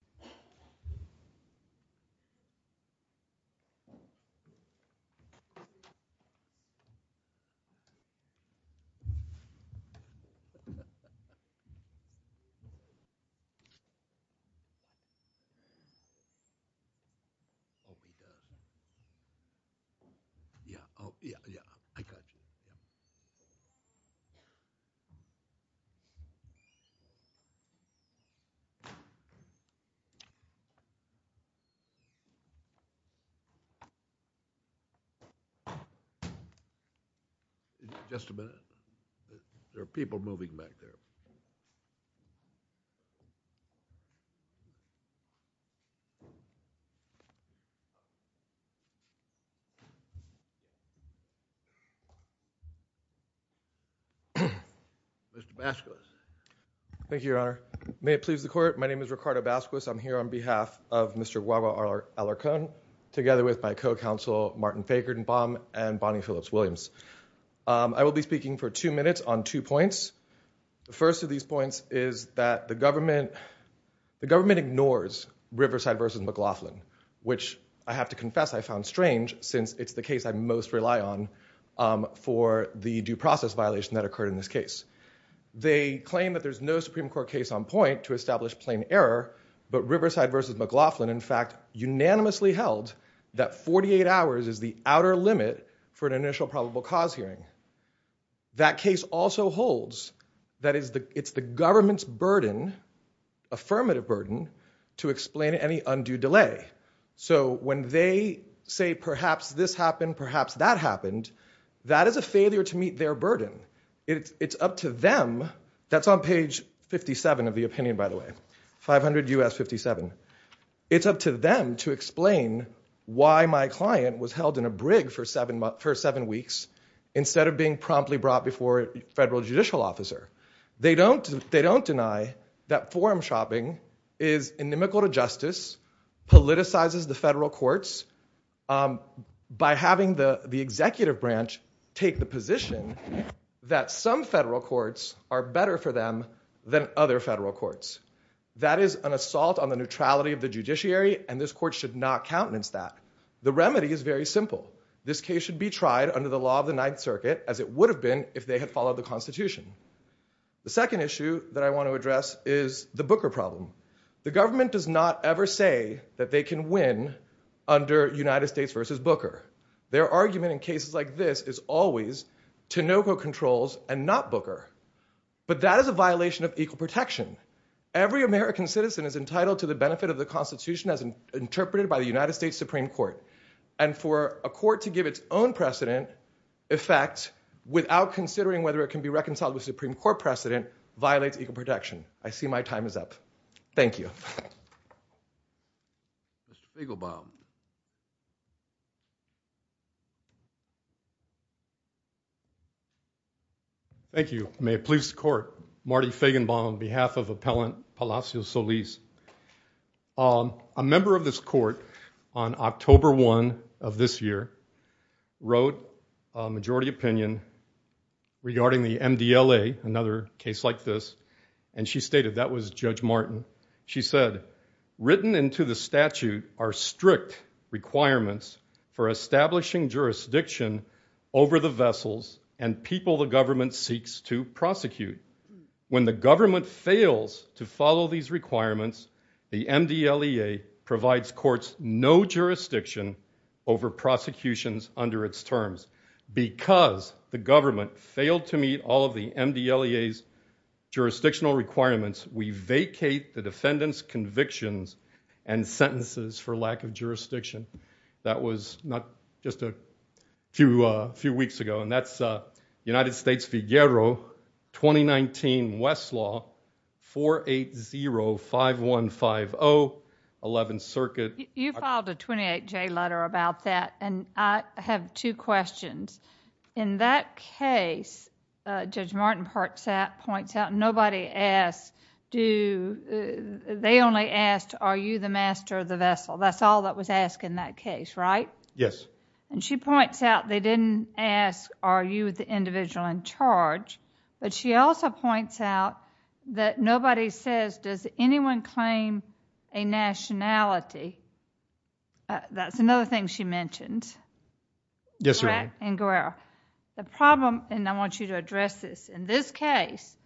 CABEZAS-MONTANO, ADALBERTO FRICKSON PALACIOS-SOLIS, HECTOR LEONARDO GUAGUA-ALARCON CABEZAS-MONTANO, ADALBERTO FRICKSON, HECTOR LEONARDO GUAGUA, ADALBERTO FRICKSON PALACIOS, here on behalf of Mr. Guagua Alarcon, together with my co-counsel Martin Fagernbaum and Bonnie Phillips-Williams. I will be speaking for two minutes on two points. The first of these points is that the government ignores Riverside v. McLaughlin, which I have to confess I found strange since it's the case I most rely on for the due process violation that occurred in this case. They claim that there's no Supreme Court case on point to establish plain error, but Riverside v. McLaughlin in fact unanimously held that 48 hours is the outer limit for an initial probable cause hearing. That case also holds that it's the government's burden, affirmative burden, to explain any undue delay. So when they say perhaps this happened, perhaps that happened, that is a failure to meet their burden. It's up to them, that's on page 57 of the opinion by the way, 500 U.S. 57. It's up to them to explain why my client was held in a brig for seven weeks instead of being promptly brought before a federal judicial officer. They don't deny that forum shopping is inimical to justice, politicizes the federal courts by having the executive branch take the position that some federal courts are better for them than other federal courts. That is an assault on the neutrality of the judiciary and this court should not countenance that. The remedy is very simple. This case should be tried under the law of the Ninth Circuit as it would have been if they had followed the Constitution. The second issue that I want to address is the Booker problem. The government does not ever say that they can win under United States v. Booker. Their argument in cases like this is always Tinoco controls and not violation of equal protection. Every American citizen is entitled to the benefit of the Constitution as interpreted by the United States Supreme Court and for a court to give its own precedent effect without considering whether it can be reconciled with Supreme Court precedent violates equal protection. I see my time is up. Thank you. Mr. Spiegelbaum. Thank you. May it please the court. Marty Feigenbaum on behalf of Appellant Palacio Solis. A member of this court on October 1 of this year wrote a majority opinion regarding the MDLA, another case like this, and she stated that was Judge Martin. She said, written into the statute are strict requirements for establishing jurisdiction over the vessels and people the government seeks to prosecute. When the government fails to follow these requirements, the MDLEA provides courts no jurisdiction over prosecutions under its terms. Because the government failed to meet all of the MDLEA's jurisdictional requirements, we vacate the defendant's convictions and sentences for lack of jurisdiction. That was just a few weeks ago and that's United States Figuero 2019 West Law 4805150 11th Circuit. You filed a 28-J letter about that and I have two questions. In that case, Judge Martin points out nobody asked, they only asked, are you the master of the vessel? That's all that was asked in that case, right? Yes. And she points out they didn't ask are you the individual in charge, but she also points out that nobody says does anyone claim a nationality? That's another thing she mentioned. Yes, Your Honor. The problem, and I want you to address this, in this case,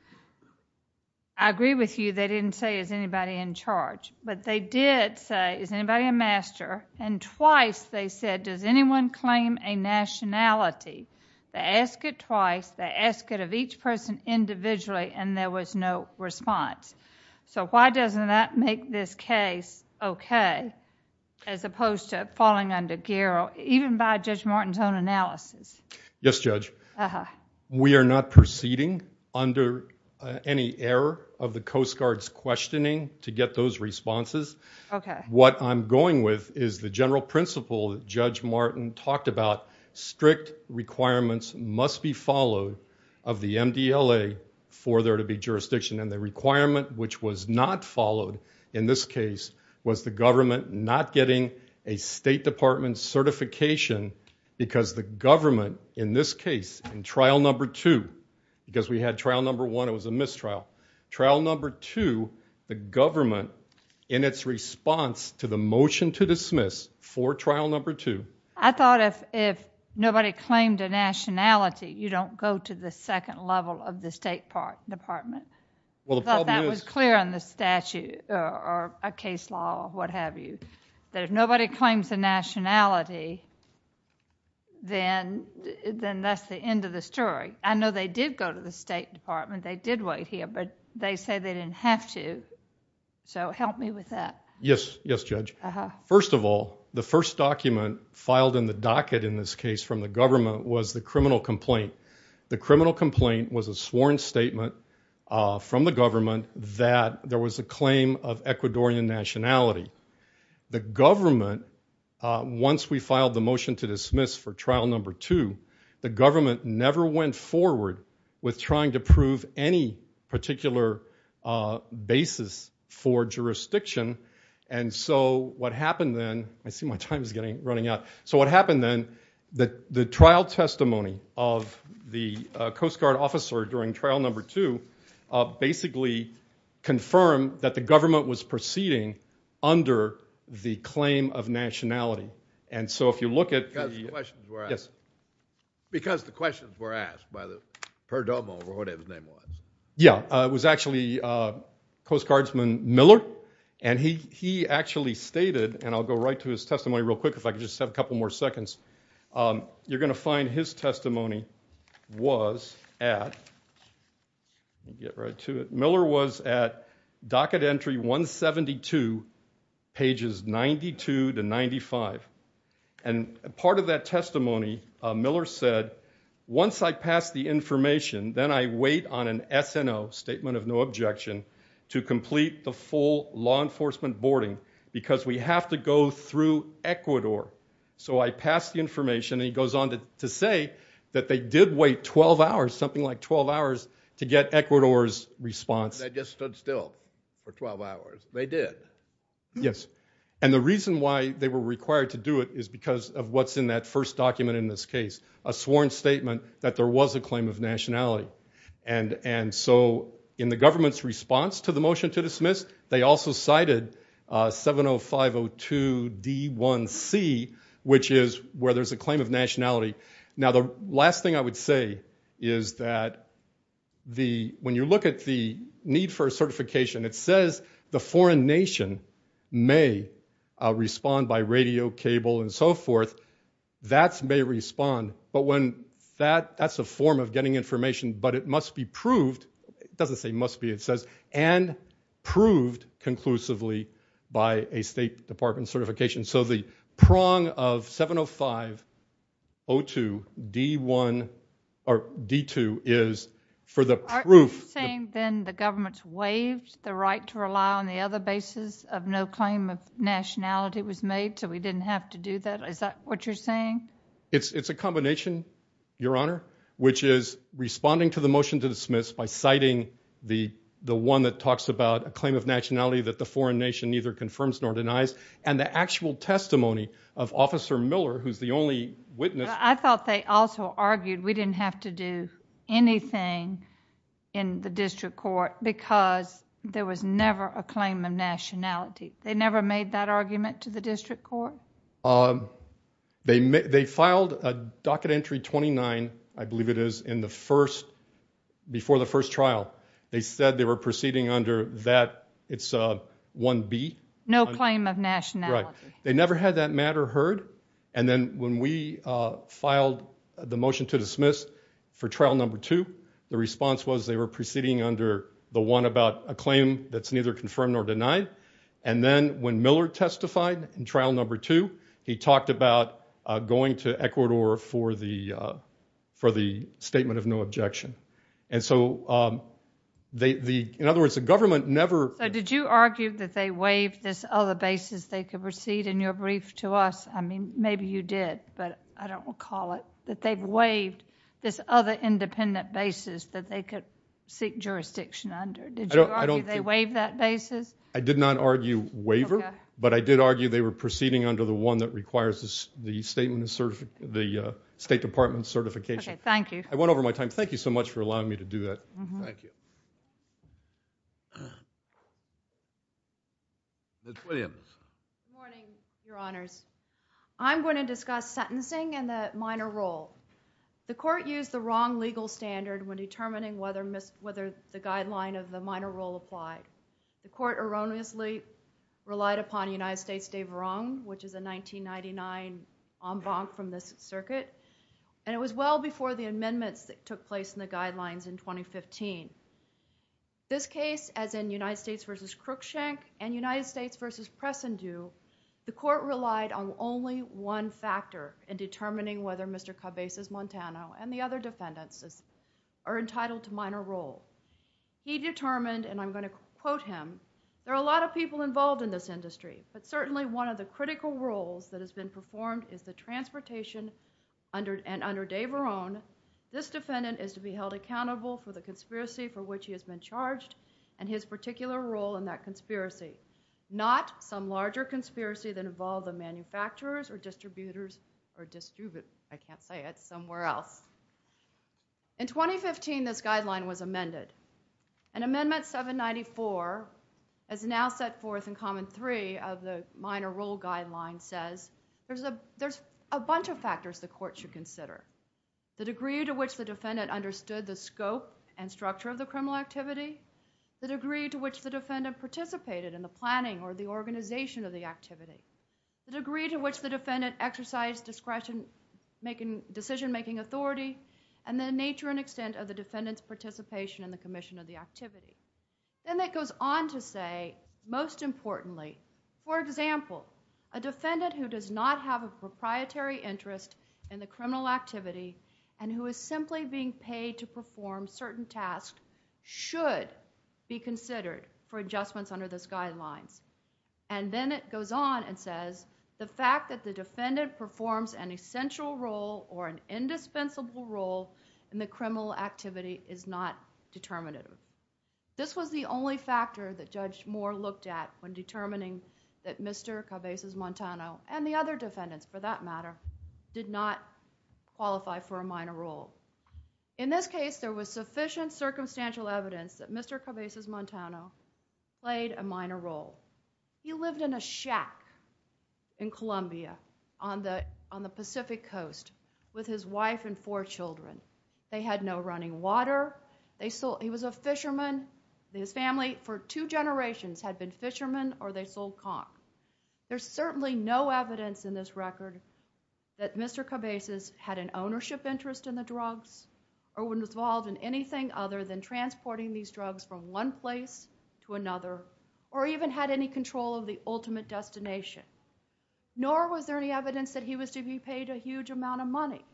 I agree with you they didn't say is anybody in charge, but they did say is anybody a master? And twice they said does anyone claim a nationality? They asked it twice, they asked it of each person individually and there was no response. So why doesn't that make this case okay as opposed to falling under gear even by Judge Martin's own analysis? Yes, Judge. We are not going with is the general principle that Judge Martin talked about strict requirements must be followed of the MDLA for there to be jurisdiction and the requirement which was not followed in this case was the government not getting a State Department certification because the government in this case in trial number two, because we had trial number one it was a mistrial, trial number two the government in its response to the motion to dismiss for trial number two. I thought if if nobody claimed a nationality you don't go to the second level of the State Department. Well, that was clear on the statute or a case law, what have you, that if nobody claims a nationality then then that's the end of the story. I know they did go to the State Department, they did wait here, but they say they didn't have to, so help me with that. Yes, yes, Judge. First of all, the first document filed in the docket in this case from the government was the criminal complaint. The criminal complaint was a sworn statement from the government that there was a claim of Ecuadorian nationality. The government, once we filed the motion to dismiss for trial number two, the particular basis for jurisdiction, and so what happened then, I see my time is getting running out, so what happened then that the trial testimony of the Coast Guard officer during trial number two basically confirmed that the government was proceeding under the claim of nationality, and so if you look at, yes, because the questions were asked by the Perdomo, or whatever his name was. Yeah, it was actually Coast Guardsman Miller, and he actually stated, and I'll go right to his testimony real quick if I could just have a couple more seconds, you're gonna find his testimony was at, get right to it, and part of that testimony, Miller said, once I pass the information, then I wait on an SNO, statement of no objection, to complete the full law enforcement boarding, because we have to go through Ecuador, so I pass the information, and he goes on to say that they did wait 12 hours, something like 12 hours, to get Ecuador's response. They just stood still for 12 hours. They did. Yes, and the reason why they were required to do it is because of what's in that first document in this case, a sworn statement that there was a claim of nationality, and so in the government's response to the motion to dismiss, they also cited 70502 D1C, which is where there's a claim of nationality. Now, the last thing I would say is that the, when you look at the need for a certification, it says the foreign nation may respond by radio, cable, and so forth. That's may respond, but when that, that's a form of getting information, but it must be proved, it doesn't say must be, it says and proved conclusively by a state department certification, so the prong of 70502 D1, or D2, is for the proof. Are you saying then the government's the right to rely on the other basis of no claim of nationality was made, so we didn't have to do that? Is that what you're saying? It's, it's a combination, your honor, which is responding to the motion to dismiss by citing the, the one that talks about a claim of nationality that the foreign nation neither confirms nor denies, and the actual testimony of Officer Miller, who's the only witness. I thought they also argued we didn't have to do anything in the district court because there was never a claim of nationality. They never made that argument to the district court? They, they filed a docket entry 29, I believe it is, in the first, before the first trial. They said they were proceeding under that, it's 1B. No claim of nationality. They never had that matter heard, and then when we filed the motion to dismiss for trial number two, the response was they were proceeding under the one about a claim that's neither confirmed nor denied, and then when Miller testified in trial number two, he talked about going to Ecuador for the, for the statement of no objection, and so they, the, in other words, the government never. So did you argue that they waived this other basis they could recede in your brief to us? I mean, maybe you did, but I don't call it that they've waived this other independent basis that they could seek jurisdiction under. Did you argue they waived that basis? I did not argue waiver, but I did argue they were proceeding under the one that requires the statement of certificate, the State Department certification. Okay, thank you. I went over my time. Thank you so much for allowing me to do that. Thank you. Ms. Williams. Good morning, Your Honors. I'm going to discuss sentencing and the minor role. The court used the wrong legal standard when determining whether mis, whether the guideline of the minor role applied. The court erroneously relied upon United States de Verong, which is a 1999 en banc from this circuit, and it was well before the amendments that took place in the case as in United States v. Cruikshank and United States v. Press and Due, the court relied on only one factor in determining whether Mr. Cabezas-Montano and the other defendants are entitled to minor role. He determined, and I'm going to quote him, there are a lot of people involved in this industry, but certainly one of the critical roles that has been performed is the transportation under, and under de Verong, this defendant is to be held accountable for the conspiracy for which he has been charged, and his particular role in that conspiracy, not some larger conspiracy that involved the manufacturers or distributors, or distribute, I can't say it, somewhere else. In 2015, this guideline was amended, and amendment 794 is now set forth in common three of the minor role guideline says there's a bunch of factors the court should consider. The degree to which the defendant understood the scope and structure of the criminal activity, the degree to which the defendant participated in the planning or the organization of the activity, the degree to which the defendant exercised discretion, decision-making authority, and the nature and extent of the defendant's participation in the commission of the activity. Then it goes on to say, most importantly, for example, a defendant who does not have a proprietary interest in the criminal activity and who is simply being paid to perform certain tasks should be considered for adjustments under those guidelines. Then it goes on and says the fact that the defendant performs an essential role or an indispensable role in the criminal activity is not determinative. This was the only factor that Judge Moore looked at when determining that Mr. Cabezas-Montano and the other defendants, for that matter, did not qualify for a minor role. In this case, there was sufficient circumstantial evidence that Mr. Cabezas-Montano played a minor role. He lived in a shack in Colombia on the Pacific Coast with his wife and four children. They had no running water. He was a fisherman. His family for two generations had been fishermen or they sold conch. There's certainly no evidence in this record that Mr. Cabezas had an ownership interest in the drugs or was involved in anything other than transporting these drugs from one place to another or even had any control of the ultimate destination. Nor was there any evidence that he was to be paid a huge amount of money.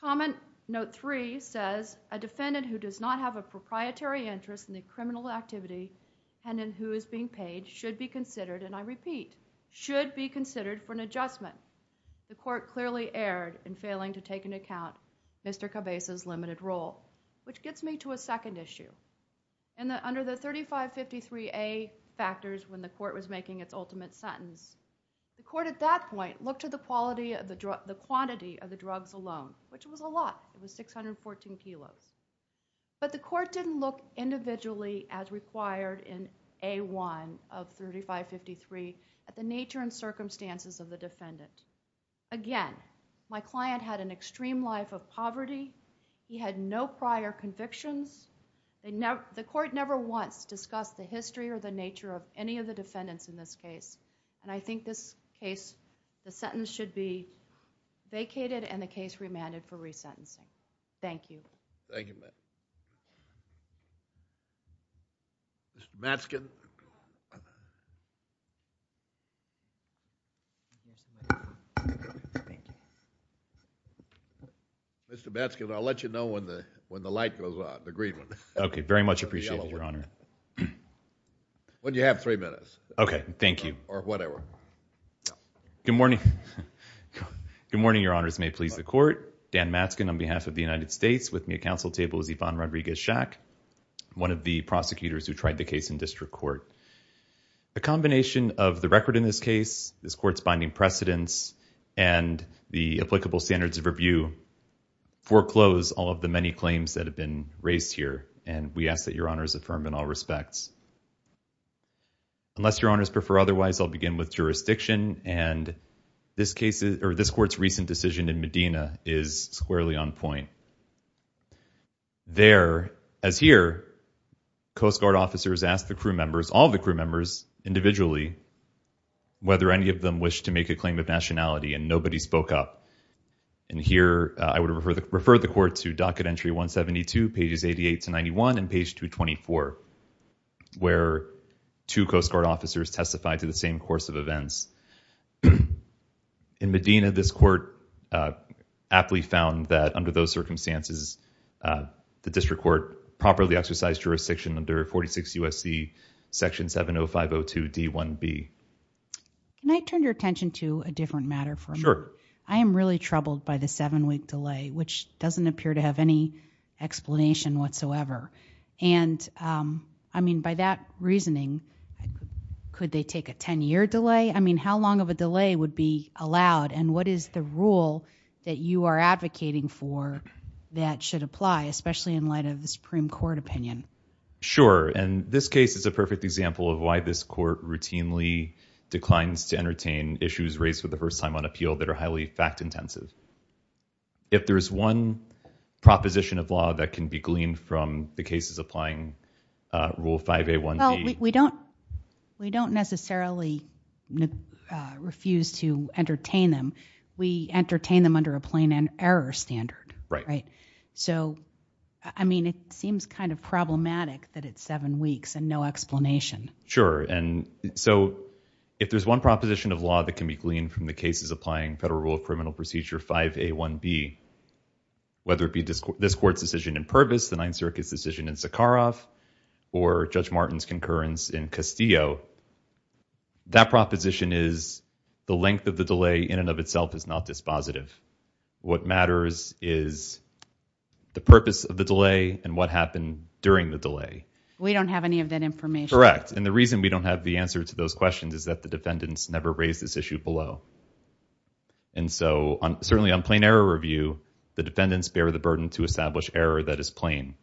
Comment note three says a defendant who does not have a proprietary interest in the criminal activity and in who is being paid should be considered, and I repeat, should be considered for an adjustment. The court clearly erred in failing to take into account Mr. Cabezas' limited role, which gets me to a second issue. Under the 3553A factors when the court was making its ultimate sentence, the court at that point looked at the quantity of the drugs alone, which was a 14 kilos. But the court didn't look individually as required in A1 of 3553 at the nature and circumstances of the defendant. Again, my client had an extreme life of poverty. He had no prior convictions. The court never once discussed the history or the nature of any of the defendants in this case, and I think this case, the sentence should be vacated and the case remanded for thank you. Mr. Matzkin. Mr. Matzkin, I'll let you know when the when the light goes on, the green one. Okay, very much appreciated, Your Honor. When you have three minutes. Okay, thank you. Or whatever. Good morning. Good morning, Your Honors. May it please the court. Dan Matzkin on behalf of the United States with me at council table is Yvonne Rodriguez-Shack, one of the prosecutors who tried the case in district court. A combination of the record in this case, this court's binding precedents, and the applicable standards of review foreclose all of the many claims that have been raised here, and we ask that Your Honors affirm in all respects. Unless Your Honors prefer otherwise, I'll begin with squarely on point. There, as here, Coast Guard officers asked the crew members, all the crew members individually, whether any of them wish to make a claim of nationality, and nobody spoke up. And here, I would refer the court to docket entry 172, pages 88 to 91, and page 224, where two Coast Guard officers testified to the same course of events. In Medina, this court aptly found that under those circumstances, the district court properly exercised jurisdiction under 46 U.S.C. section 70502 D1B. Can I turn your attention to a different matter for a moment? Sure. I am really troubled by the seven-week delay, which doesn't appear to have any explanation whatsoever. And, I mean, by that reasoning, could they take a 10-year delay? I mean, how long of a delay would be allowed, and what is the rule that you are advocating for that should apply, especially in light of the Supreme Court opinion? Sure. And this case is a perfect example of why this court routinely declines to entertain issues raised for the first time on appeal that are highly fact-intensive. If there is one proposition of law that can be gleaned from the cases applying Rule 5A1B— refuse to entertain them—we entertain them under a plain error standard, right? So, I mean, it seems kind of problematic that it's seven weeks and no explanation. Sure. And so if there is one proposition of law that can be gleaned from the cases applying Federal Rule of Criminal Procedure 5A1B, whether it be this court's decision in Purvis, the Ninth Circuit's decision in Sakharov, or Judge Martin's concurrence in Castillo, that proposition is the length of the delay in and of itself is not dispositive. What matters is the purpose of the delay and what happened during the delay. We don't have any of that information. Correct. And the reason we don't have the answer to those questions is that the defendants never raised this issue below. And so, certainly on plain error review, the defendants bear the burden to establish error that is plain.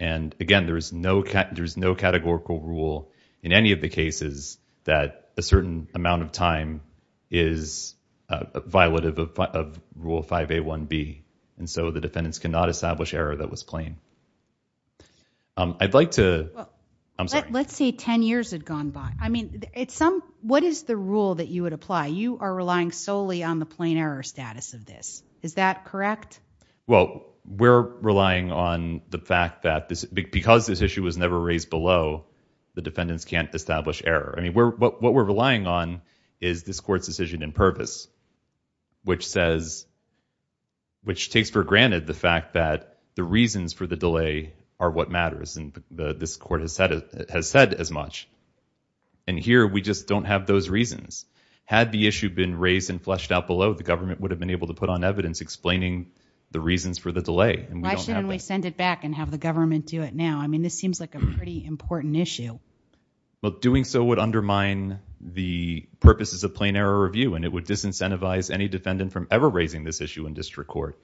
And again, there is no categorical rule in any of the cases that a certain amount of time is violative of Rule 5A1B. And so the defendants cannot establish error that was plain. I'd like to— I'm sorry. Let's say 10 years had gone by. I mean, what is the rule that you would apply? You are relying solely on the plain error status of this. Is that correct? Well, we're relying on the fact that because this issue was never raised below, the defendants can't establish error. I mean, what we're relying on is this court's decision in purpose, which says— which takes for granted the fact that the reasons for the delay are what matters. And this court has said as much. And here, we just don't have those reasons. Had the issue been raised and fleshed out below, the government would have been able to put on evidence explaining the reasons for the delay. Why shouldn't we send it back and have the government do it now? I mean, this seems like a pretty important issue. But doing so would undermine the purposes of plain error review, and it would disincentivize any defendant from ever raising this issue in district court.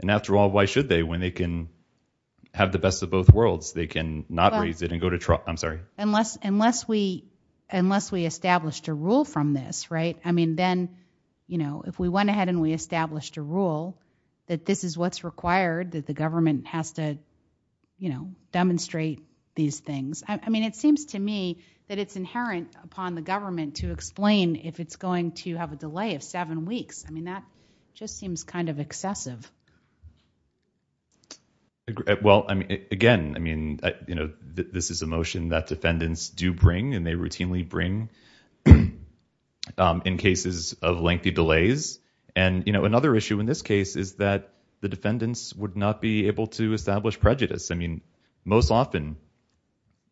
And after all, why should they when they can have the best of both worlds? They can not raise it and go to— I'm sorry. Unless we established a rule from this, right? I mean, then, you know, if we went ahead and we established a rule that this is what's required, that the government has to, you know, demonstrate these things. I mean, it seems to me that it's inherent upon the government to explain if it's going to have a delay of seven weeks. I mean, that just seems kind of excessive. Well, I mean, again, I mean, you know, this is a motion that defendants do bring, and they routinely bring in cases of lengthy delays. And, you know, another issue in this case is that the defendants would not be able to establish prejudice. I mean, most often,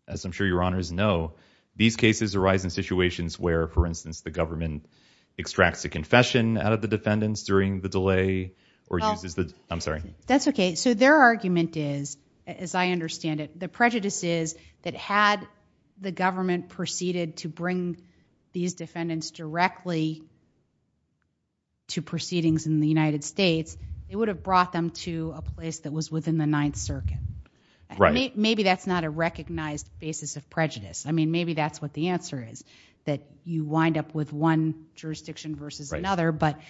as I'm sure your honors know, these cases arise in situations where, for instance, the government extracts a confession out of the defendants during the delay, or uses the— I'm sorry. That's okay. So their argument is, as I understand it, the prejudice is that had the government proceeded to bring these defendants directly to proceedings in the United States, it would have brought them to a place that was within the Ninth Circuit. Maybe that's not a recognized basis of prejudice. I mean, maybe that's what the answer is, that you wind up with one jurisdiction versus another. But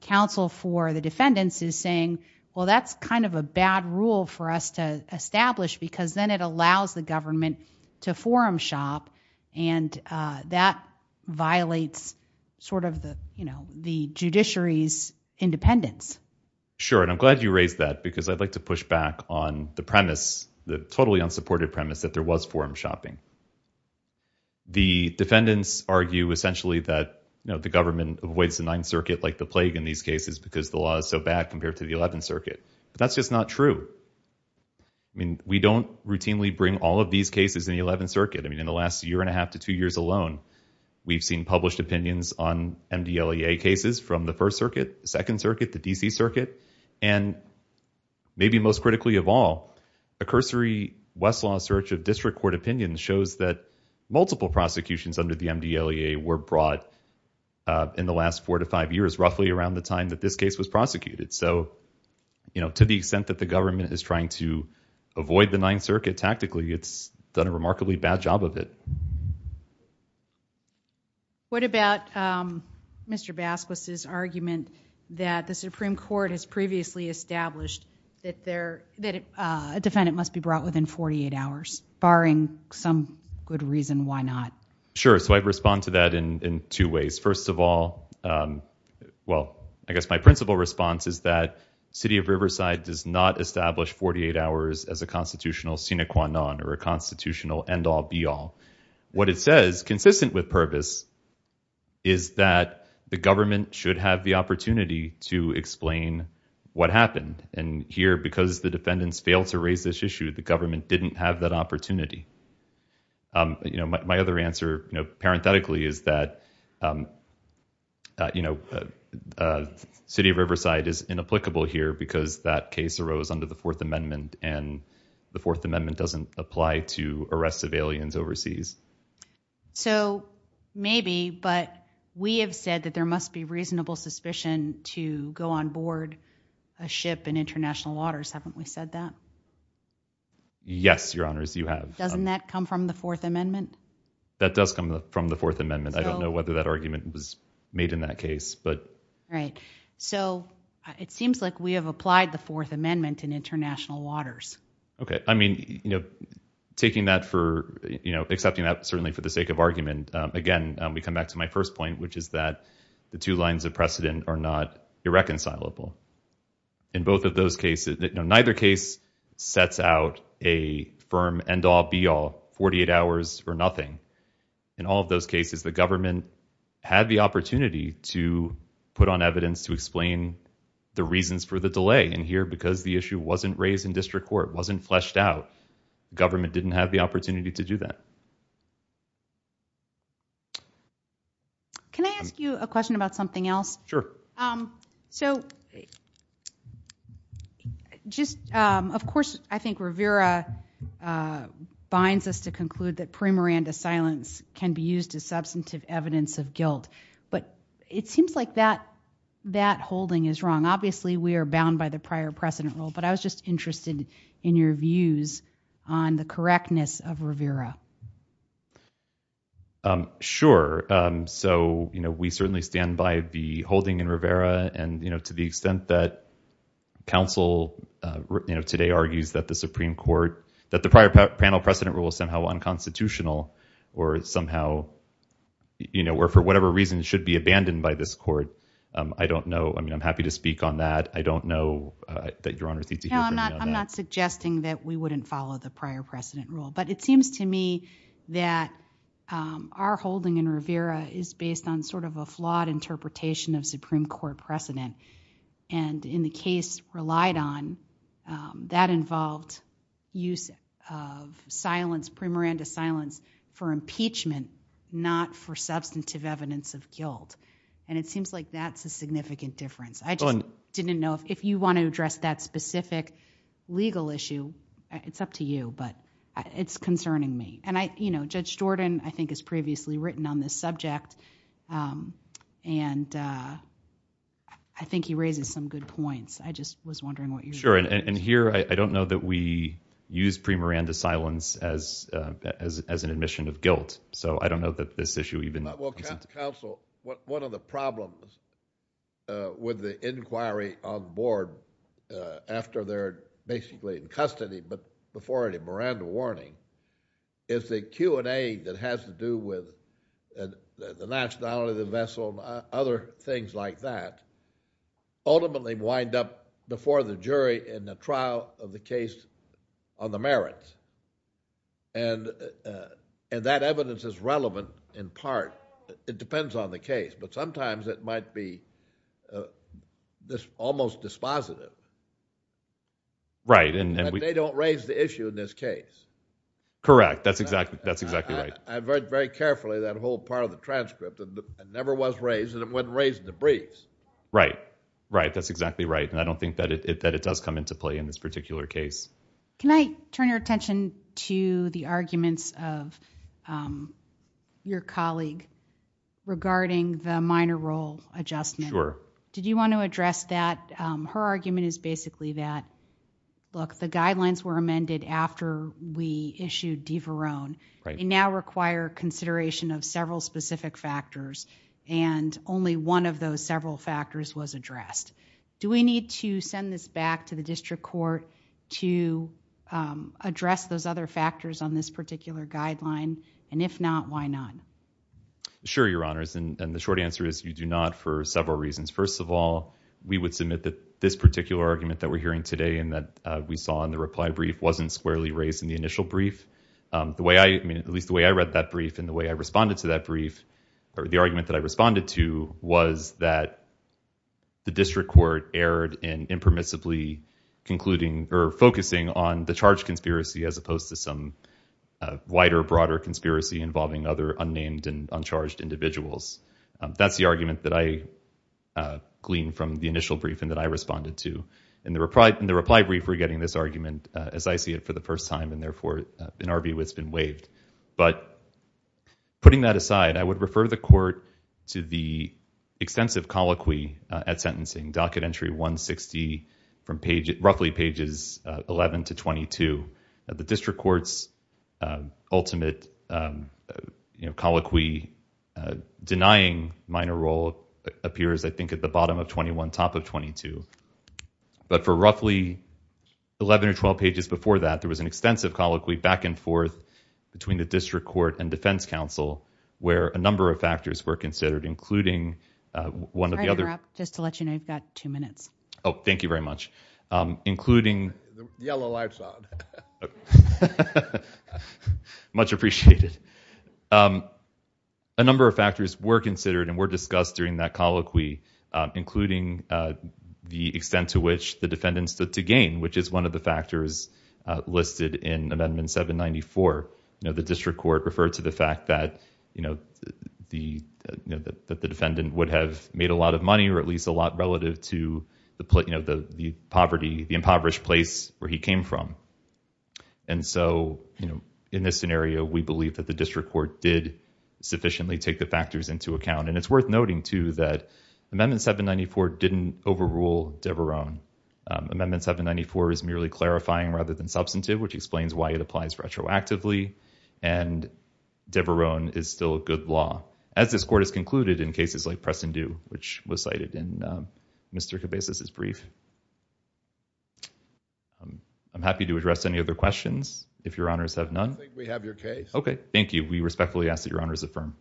counsel for the defendants is saying, well, that's kind of a bad rule for us to establish, because then it allows the government to forum shop, and that violates sort of the, you know, the judiciary's independence. Sure. And I'm glad you raised that, because I'd like to push back on the premise, the totally unsupported premise, that there was forum shopping. The defendants argue essentially that, you know, the government avoids the Ninth Circuit, like the plague in these cases, because the law is so bad compared to the Eleventh Circuit. But that's just not true. I mean, we don't routinely bring all of these cases in the Eleventh Circuit. I mean, in the last year and a half to two years alone, we've seen published opinions on MDLEA cases from the First Circuit, the Second Circuit, the D.C. Circuit. And maybe most critically of all, a cursory Westlaw search of district court opinions shows that multiple prosecutions under the MDLEA were brought in the last four to five years, roughly around the time that this case was prosecuted. So, you know, to the extent that the government is trying to avoid the Ninth Circuit tactically, it's done a remarkably bad job of it. What about Mr. Basquez's argument that the Supreme Court has previously established that a defendant must be brought within 48 hours, barring some good reason why not? Sure. So I'd respond to that in two ways. First of all, well, I guess my principal response is that City of Riverside does not establish 48 hours as a constitutional sine qua non or a constitutional end-all be-all. What it says, consistent with Purvis, is that the government should have the opportunity to explain what happened. And here, because the defendants failed to raise this issue, the government didn't have that opportunity. You know, my other answer, you know, parenthetically, is that, you know, City of Riverside is inapplicable here because that case arose under the Fourth Amendment, and the Fourth Amendment doesn't apply to arrests of aliens overseas. So maybe, but we have said that there must be reasonable suspicion to go on board a ship in international waters. Haven't we said that? Yes, Your Honors, you have. Doesn't that come from the Fourth Amendment? That does come from the Fourth Amendment. I don't know whether that argument was made in that case, but... Right. So it seems like we have applied the Fourth Amendment in international waters. Okay. I mean, you know, taking that for, you know, accepting that certainly for the sake of argument, again, we come back to my first point, which is that the two lines of precedent are not irreconcilable. In both of those cases, you know, neither case sets out a firm end-all be-all, 48 hours for nothing. In all of those cases, the because the issue wasn't raised in district court, wasn't fleshed out, government didn't have the opportunity to do that. Can I ask you a question about something else? Sure. So just, of course, I think Rivera binds us to conclude that pre-Miranda silence can be used as substantive evidence of guilt, but it seems like that holding is wrong. Obviously, we are a precedent rule, but I was just interested in your views on the correctness of Rivera. Sure. So, you know, we certainly stand by the holding in Rivera and, you know, to the extent that counsel, you know, today argues that the Supreme Court, that the prior panel precedent rule is somehow unconstitutional or somehow, you know, or for whatever reason should be abandoned by this Your Honor. I'm not suggesting that we wouldn't follow the prior precedent rule, but it seems to me that our holding in Rivera is based on sort of a flawed interpretation of Supreme Court precedent and in the case relied on, that involved use of silence, pre-Miranda silence for impeachment, not for substantive evidence of guilt, and it seems like that's a significant difference. I didn't know if you want to address that specific legal issue, it's up to you, but it's concerning me. And I, you know, Judge Jordan, I think, has previously written on this subject, and I think he raises some good points. I just was wondering what you... Sure. And here, I don't know that we use pre-Miranda silence as an admission of guilt, so I don't know that this issue even... Well, counsel, one of the problems with the inquiry on board after they're basically in custody, but before any Miranda warning, is the Q&A that has to do with the nationality of the vessel and other things like that ultimately wind up before the jury in the trial of the case on the merits, and that evidence is almost dispositive. Right. And they don't raise the issue in this case. Correct. That's exactly right. I've read very carefully that whole part of the transcript, and it never was raised, and it wasn't raised in the briefs. Right. Right. That's exactly right, and I don't think that it does come into play in this particular case. Can I turn your attention to the arguments of your colleague regarding the minor role adjustment? Sure. Did you want to address that? Her argument is basically that, look, the guidelines were amended after we issued DeVarone. Right. They now require consideration of several specific factors, and only one of those several factors was addressed. Do we need to send this back to the district court to address those other factors on this particular guideline, and if not, why not? Sure, Your Honors, and the short answer is you do not for several reasons. First of all, we would submit that this particular argument that we're hearing today and that we saw in the reply brief wasn't squarely raised in the initial brief. At least the way I read that brief and the way I responded to that brief or the argument that I responded to was that the district court erred in impermissibly concluding or focusing on the charge conspiracy as opposed to some wider, broader conspiracy involving other unnamed and uncharged individuals. That's the argument that I gleaned from the initial briefing that I responded to. In the reply brief, we're getting this argument as I see it for the first time, and therefore, in our view, it's been waived, but putting that aside, I would refer the court to the extensive ultimate colloquy denying minor role appears, I think, at the bottom of 21, top of 22, but for roughly 11 or 12 pages before that, there was an extensive colloquy back and forth between the district court and defense counsel where a number of factors were considered, including one of the other... Sorry to interrupt. Just to let you know, you've got two minutes. Oh, thank you very much. Including... The yellow light's on. Much appreciated. A number of factors were considered and were discussed during that colloquy, including the extent to which the defendant stood to gain, which is one of the factors listed in Amendment 794. The district court referred to the fact that the defendant would have made a lot of money or at least a lot relative to the impoverished place where he came from. In this scenario, we believe that the district court did sufficiently take the factors into account. It's worth noting, too, that Amendment 794 didn't overrule de Veroen. Amendment 794 is merely clarifying rather than substantive, which explains why it applies which was cited in Mr. Cabezas' brief. I'm happy to address any other questions if your honors have none. I think we have your case. Okay. Thank you. We respectfully ask that your honors affirm.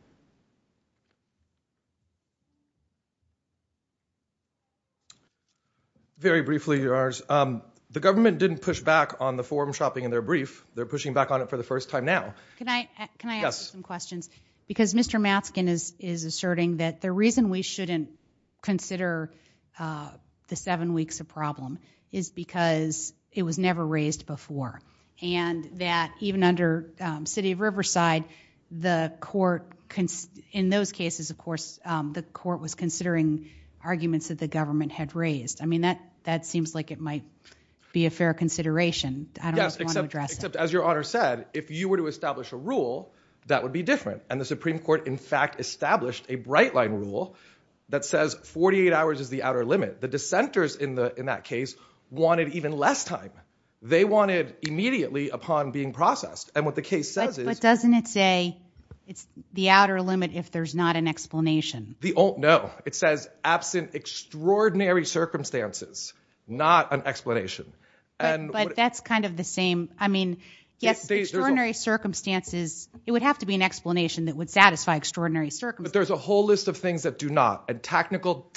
Very briefly, your honors, the government didn't push back on the forum shopping in their brief. They're pushing back on it for the first time now. Can I ask some questions? Mr. Matzkin is asserting that the reason we shouldn't consider the seven weeks a problem is because it was never raised before. Even under the city of Riverside, in those cases, of course, the court was considering arguments that the government had raised. That seems like it might be a fair consideration. Yes, except as your honor said, if you were to establish a rule, that would be different. And the Supreme Court, in fact, established a bright line rule that says 48 hours is the outer limit. The dissenters in that case wanted even less time. They wanted immediately upon being processed. And what the case says is- But doesn't it say it's the outer limit if there's not an explanation? No. It says absent extraordinary circumstances, not an explanation. But that's kind of the same. Yes, extraordinary circumstances, it would have to be an explanation that would satisfy extraordinary circumstances. But there's a whole list of things that do not. And tactical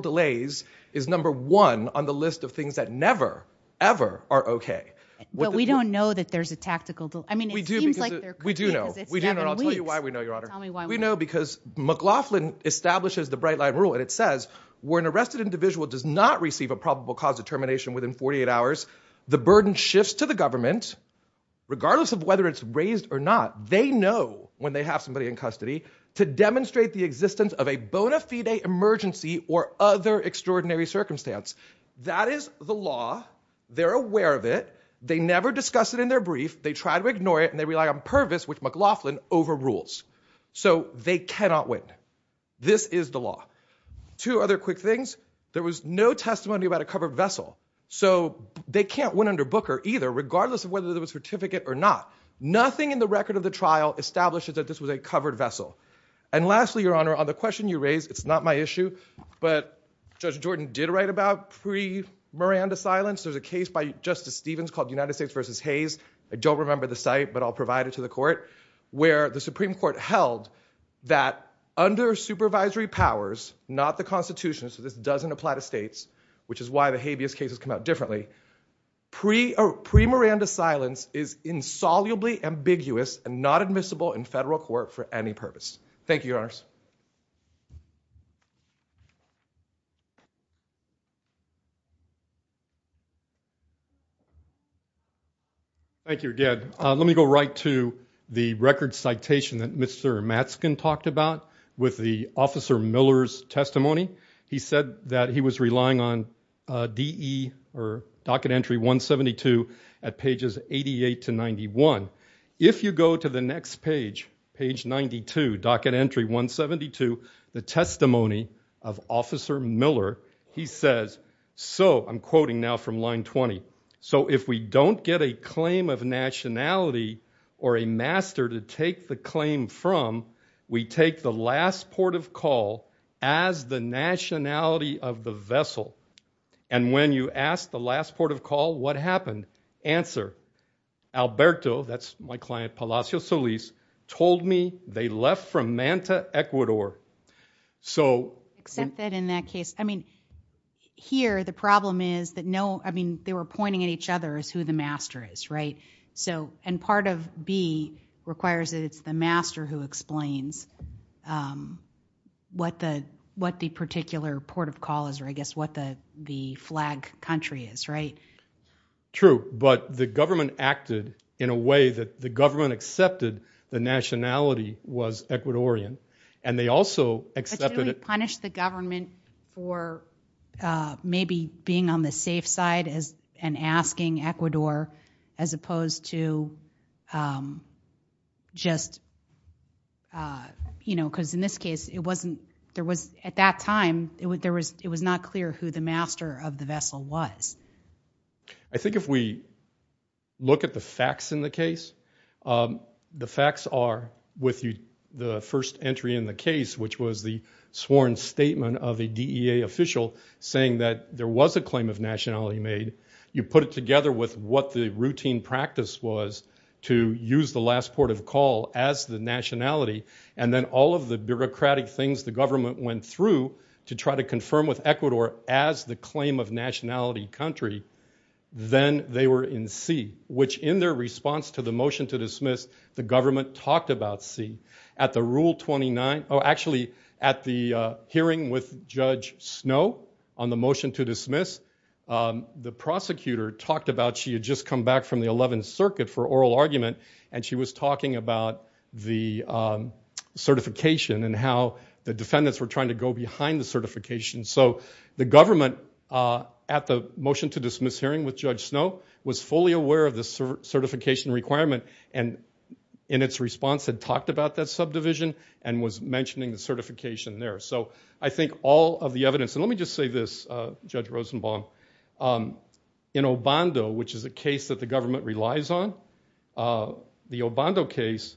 delays is number one on the list of things that never, ever are okay. But we don't know that there's a tactical delay. I mean, it seems like there could be because it's seven weeks. We do know. We do know. And I'll tell you why we know, your honor. Tell me why we know. We know because McLaughlin establishes the bright line rule. And it says, where an arrested individual does not receive a probable cause determination within 48 hours, the burden shifts to the government. Regardless of whether it's raised or not, they know when they have somebody in custody to demonstrate the existence of a bona fide emergency or other extraordinary circumstance. That is the law. They're aware of it. They never discuss it in their brief. They try to ignore it. And they rely on purpose, which McLaughlin overrules. So they cannot win. This is the law. Two other quick things. There was no testimony about a covered vessel. So they can't win under Booker either, regardless of whether there was a certificate or not. Nothing in the record of the trial establishes that this was a covered vessel. And lastly, your honor, on the question you raised, it's not my issue, but Judge Jordan did write about pre-Miranda silence. There's a case by Justice Stevens called United States versus Hayes. I don't remember the site, but I'll provide it to the court, where the Supreme Court held that under supervisory powers, not the Constitution, so this doesn't apply to states, which is why the habeas case has come out differently, pre-Miranda silence is insolubly ambiguous and not admissible in federal court for any purpose. Thank you, your honors. Thank you again. Let me go right to the record citation that Mr. Matzkin talked about with the Officer Miller's testimony. He said that he was relying on D.E. or Docket Entry 172 at pages 88 to 91. If you go to the next page, page 92, Docket Entry 172, the testimony of Officer Miller, he says, so I'm quoting now from line 20. So if we don't get a claim of nationality or a master to take the claim from, we take the last port of call as the nationality of the vessel. And when you ask the last port of call, what happened? Answer, Alberto, that's my client, Palacio Solis, told me they left from Manta, Ecuador. So. Except that in that case, I mean, here the problem is that no, I mean, they were pointing at each other as who the master is, right? And part of B requires that it's the master who explains what the particular port of call is, or I guess what the flag country is, right? True. But the government acted in a way that the government accepted the nationality was Ecuadorian. And they also accepted it. But shouldn't we punish the government for maybe being on the safe side as and asking Ecuador as opposed to just, you know, because in this case, it wasn't, there was at that time, it was not clear who the master of the vessel was. I think if we look at the facts in the case, the facts are with you, the first entry in the case, which was the sworn statement of a DEA official saying that there was a claim of nationality made, you put it together with what the routine practice was to use the last port of call as the nationality. And then all of the bureaucratic things the government went through to try to confirm with Ecuador as the claim of nationality country, then they were in C, which in their response to the motion to dismiss, the government talked about C. At the hearing with Judge Snow on the motion to dismiss, the prosecutor talked about she had just come back from the 11th circuit for oral argument. And she was talking about the certification and how the defendants were trying to go behind the certification. So the government at the motion to dismiss hearing with Judge Snow was fully aware of the certification requirement. And in its response, it talked about that subdivision and was mentioning the certification there. So I think all of the evidence, and let me just say this, Judge Rosenbaum. In Obando, which is a case that the government relies on, the Obando case,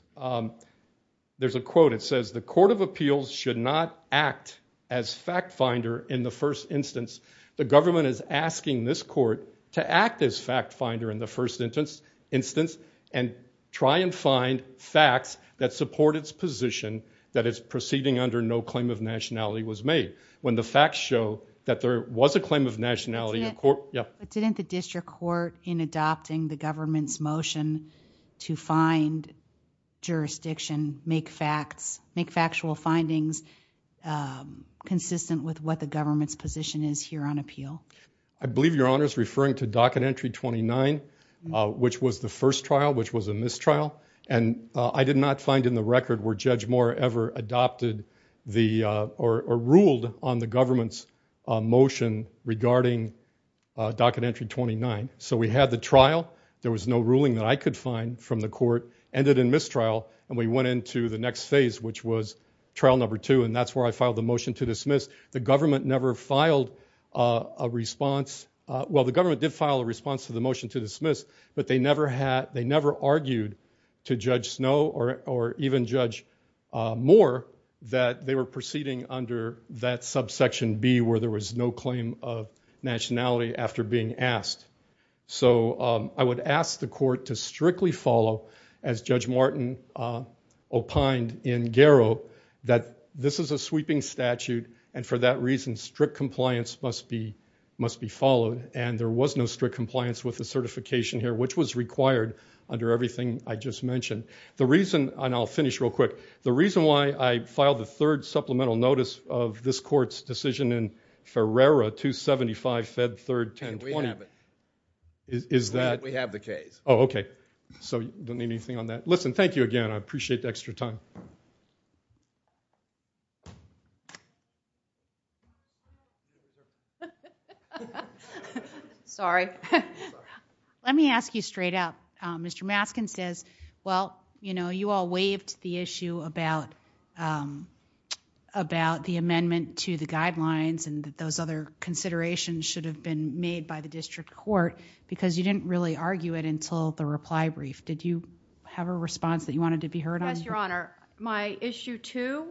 there's a quote, it says, the court of appeals should not act as fact finder in the first instance. The government is asking this court to act as fact finder in the first instance. And try and find facts that support its position that it's proceeding under no claim of nationality was made. When the facts show that there was a claim of nationality. But didn't the district court in adopting the government's motion to find jurisdiction, make facts, make factual findings consistent with what the government's position is here on appeal? I believe your honor is referring to docket entry 29, which was the first trial, which was a mistrial. And I did not find in the record where Judge Moore ever adopted the or ruled on the government's motion regarding docket entry 29. So we had the trial. There was no ruling that I could find from the court. Ended in mistrial. And we went into the next phase, which was trial number two. And that's where I filed the motion to dismiss. The government never filed a response. Well, the government did file a response to the motion to dismiss. But they never argued to Judge Snow or even Judge Moore that they were proceeding under that subsection B where there was no claim of nationality after being asked. So I would ask the court to strictly follow, as Judge Martin opined in Garrow, that this is a sweeping statute. And for that reason, strict compliance must be must be followed. And there was no strict compliance with the certification here, which was required under everything I just mentioned. The reason, and I'll finish real quick, the reason why I filed the third supplemental notice of this court's decision in Ferrara 275 Fed 3rd 1020. And we have it. Is that? We have the case. Oh, OK. So you don't need anything on that. Listen, thank you again. I appreciate the extra time. OK. Sorry. Let me ask you straight up. Mr. Maskin says, well, you know, you all waived the issue about the amendment to the guidelines and those other considerations should have been made by the district court because you didn't really argue it until the reply brief. Did you have a response that you wanted to be heard on? Yes, Your Honor. My issue two,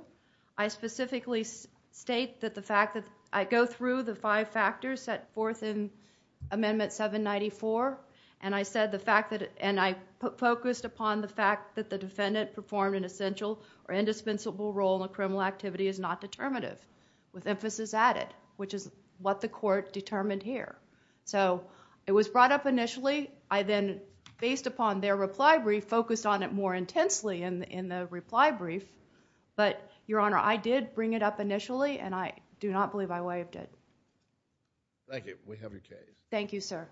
I specifically state that the fact that I go through the five factors set forth in amendment 794 and I focused upon the fact that the defendant performed an essential or indispensable role in a criminal activity is not determinative with emphasis added, which is what the court determined here. So it was brought up initially. I then, based upon their reply brief, focused on it more intensely in the reply brief. But Your Honor, I did bring it up initially and I do not believe I waived it. Thank you. We have your case. Thank you, sir.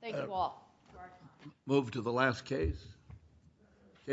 Thank you all. Move to the last case.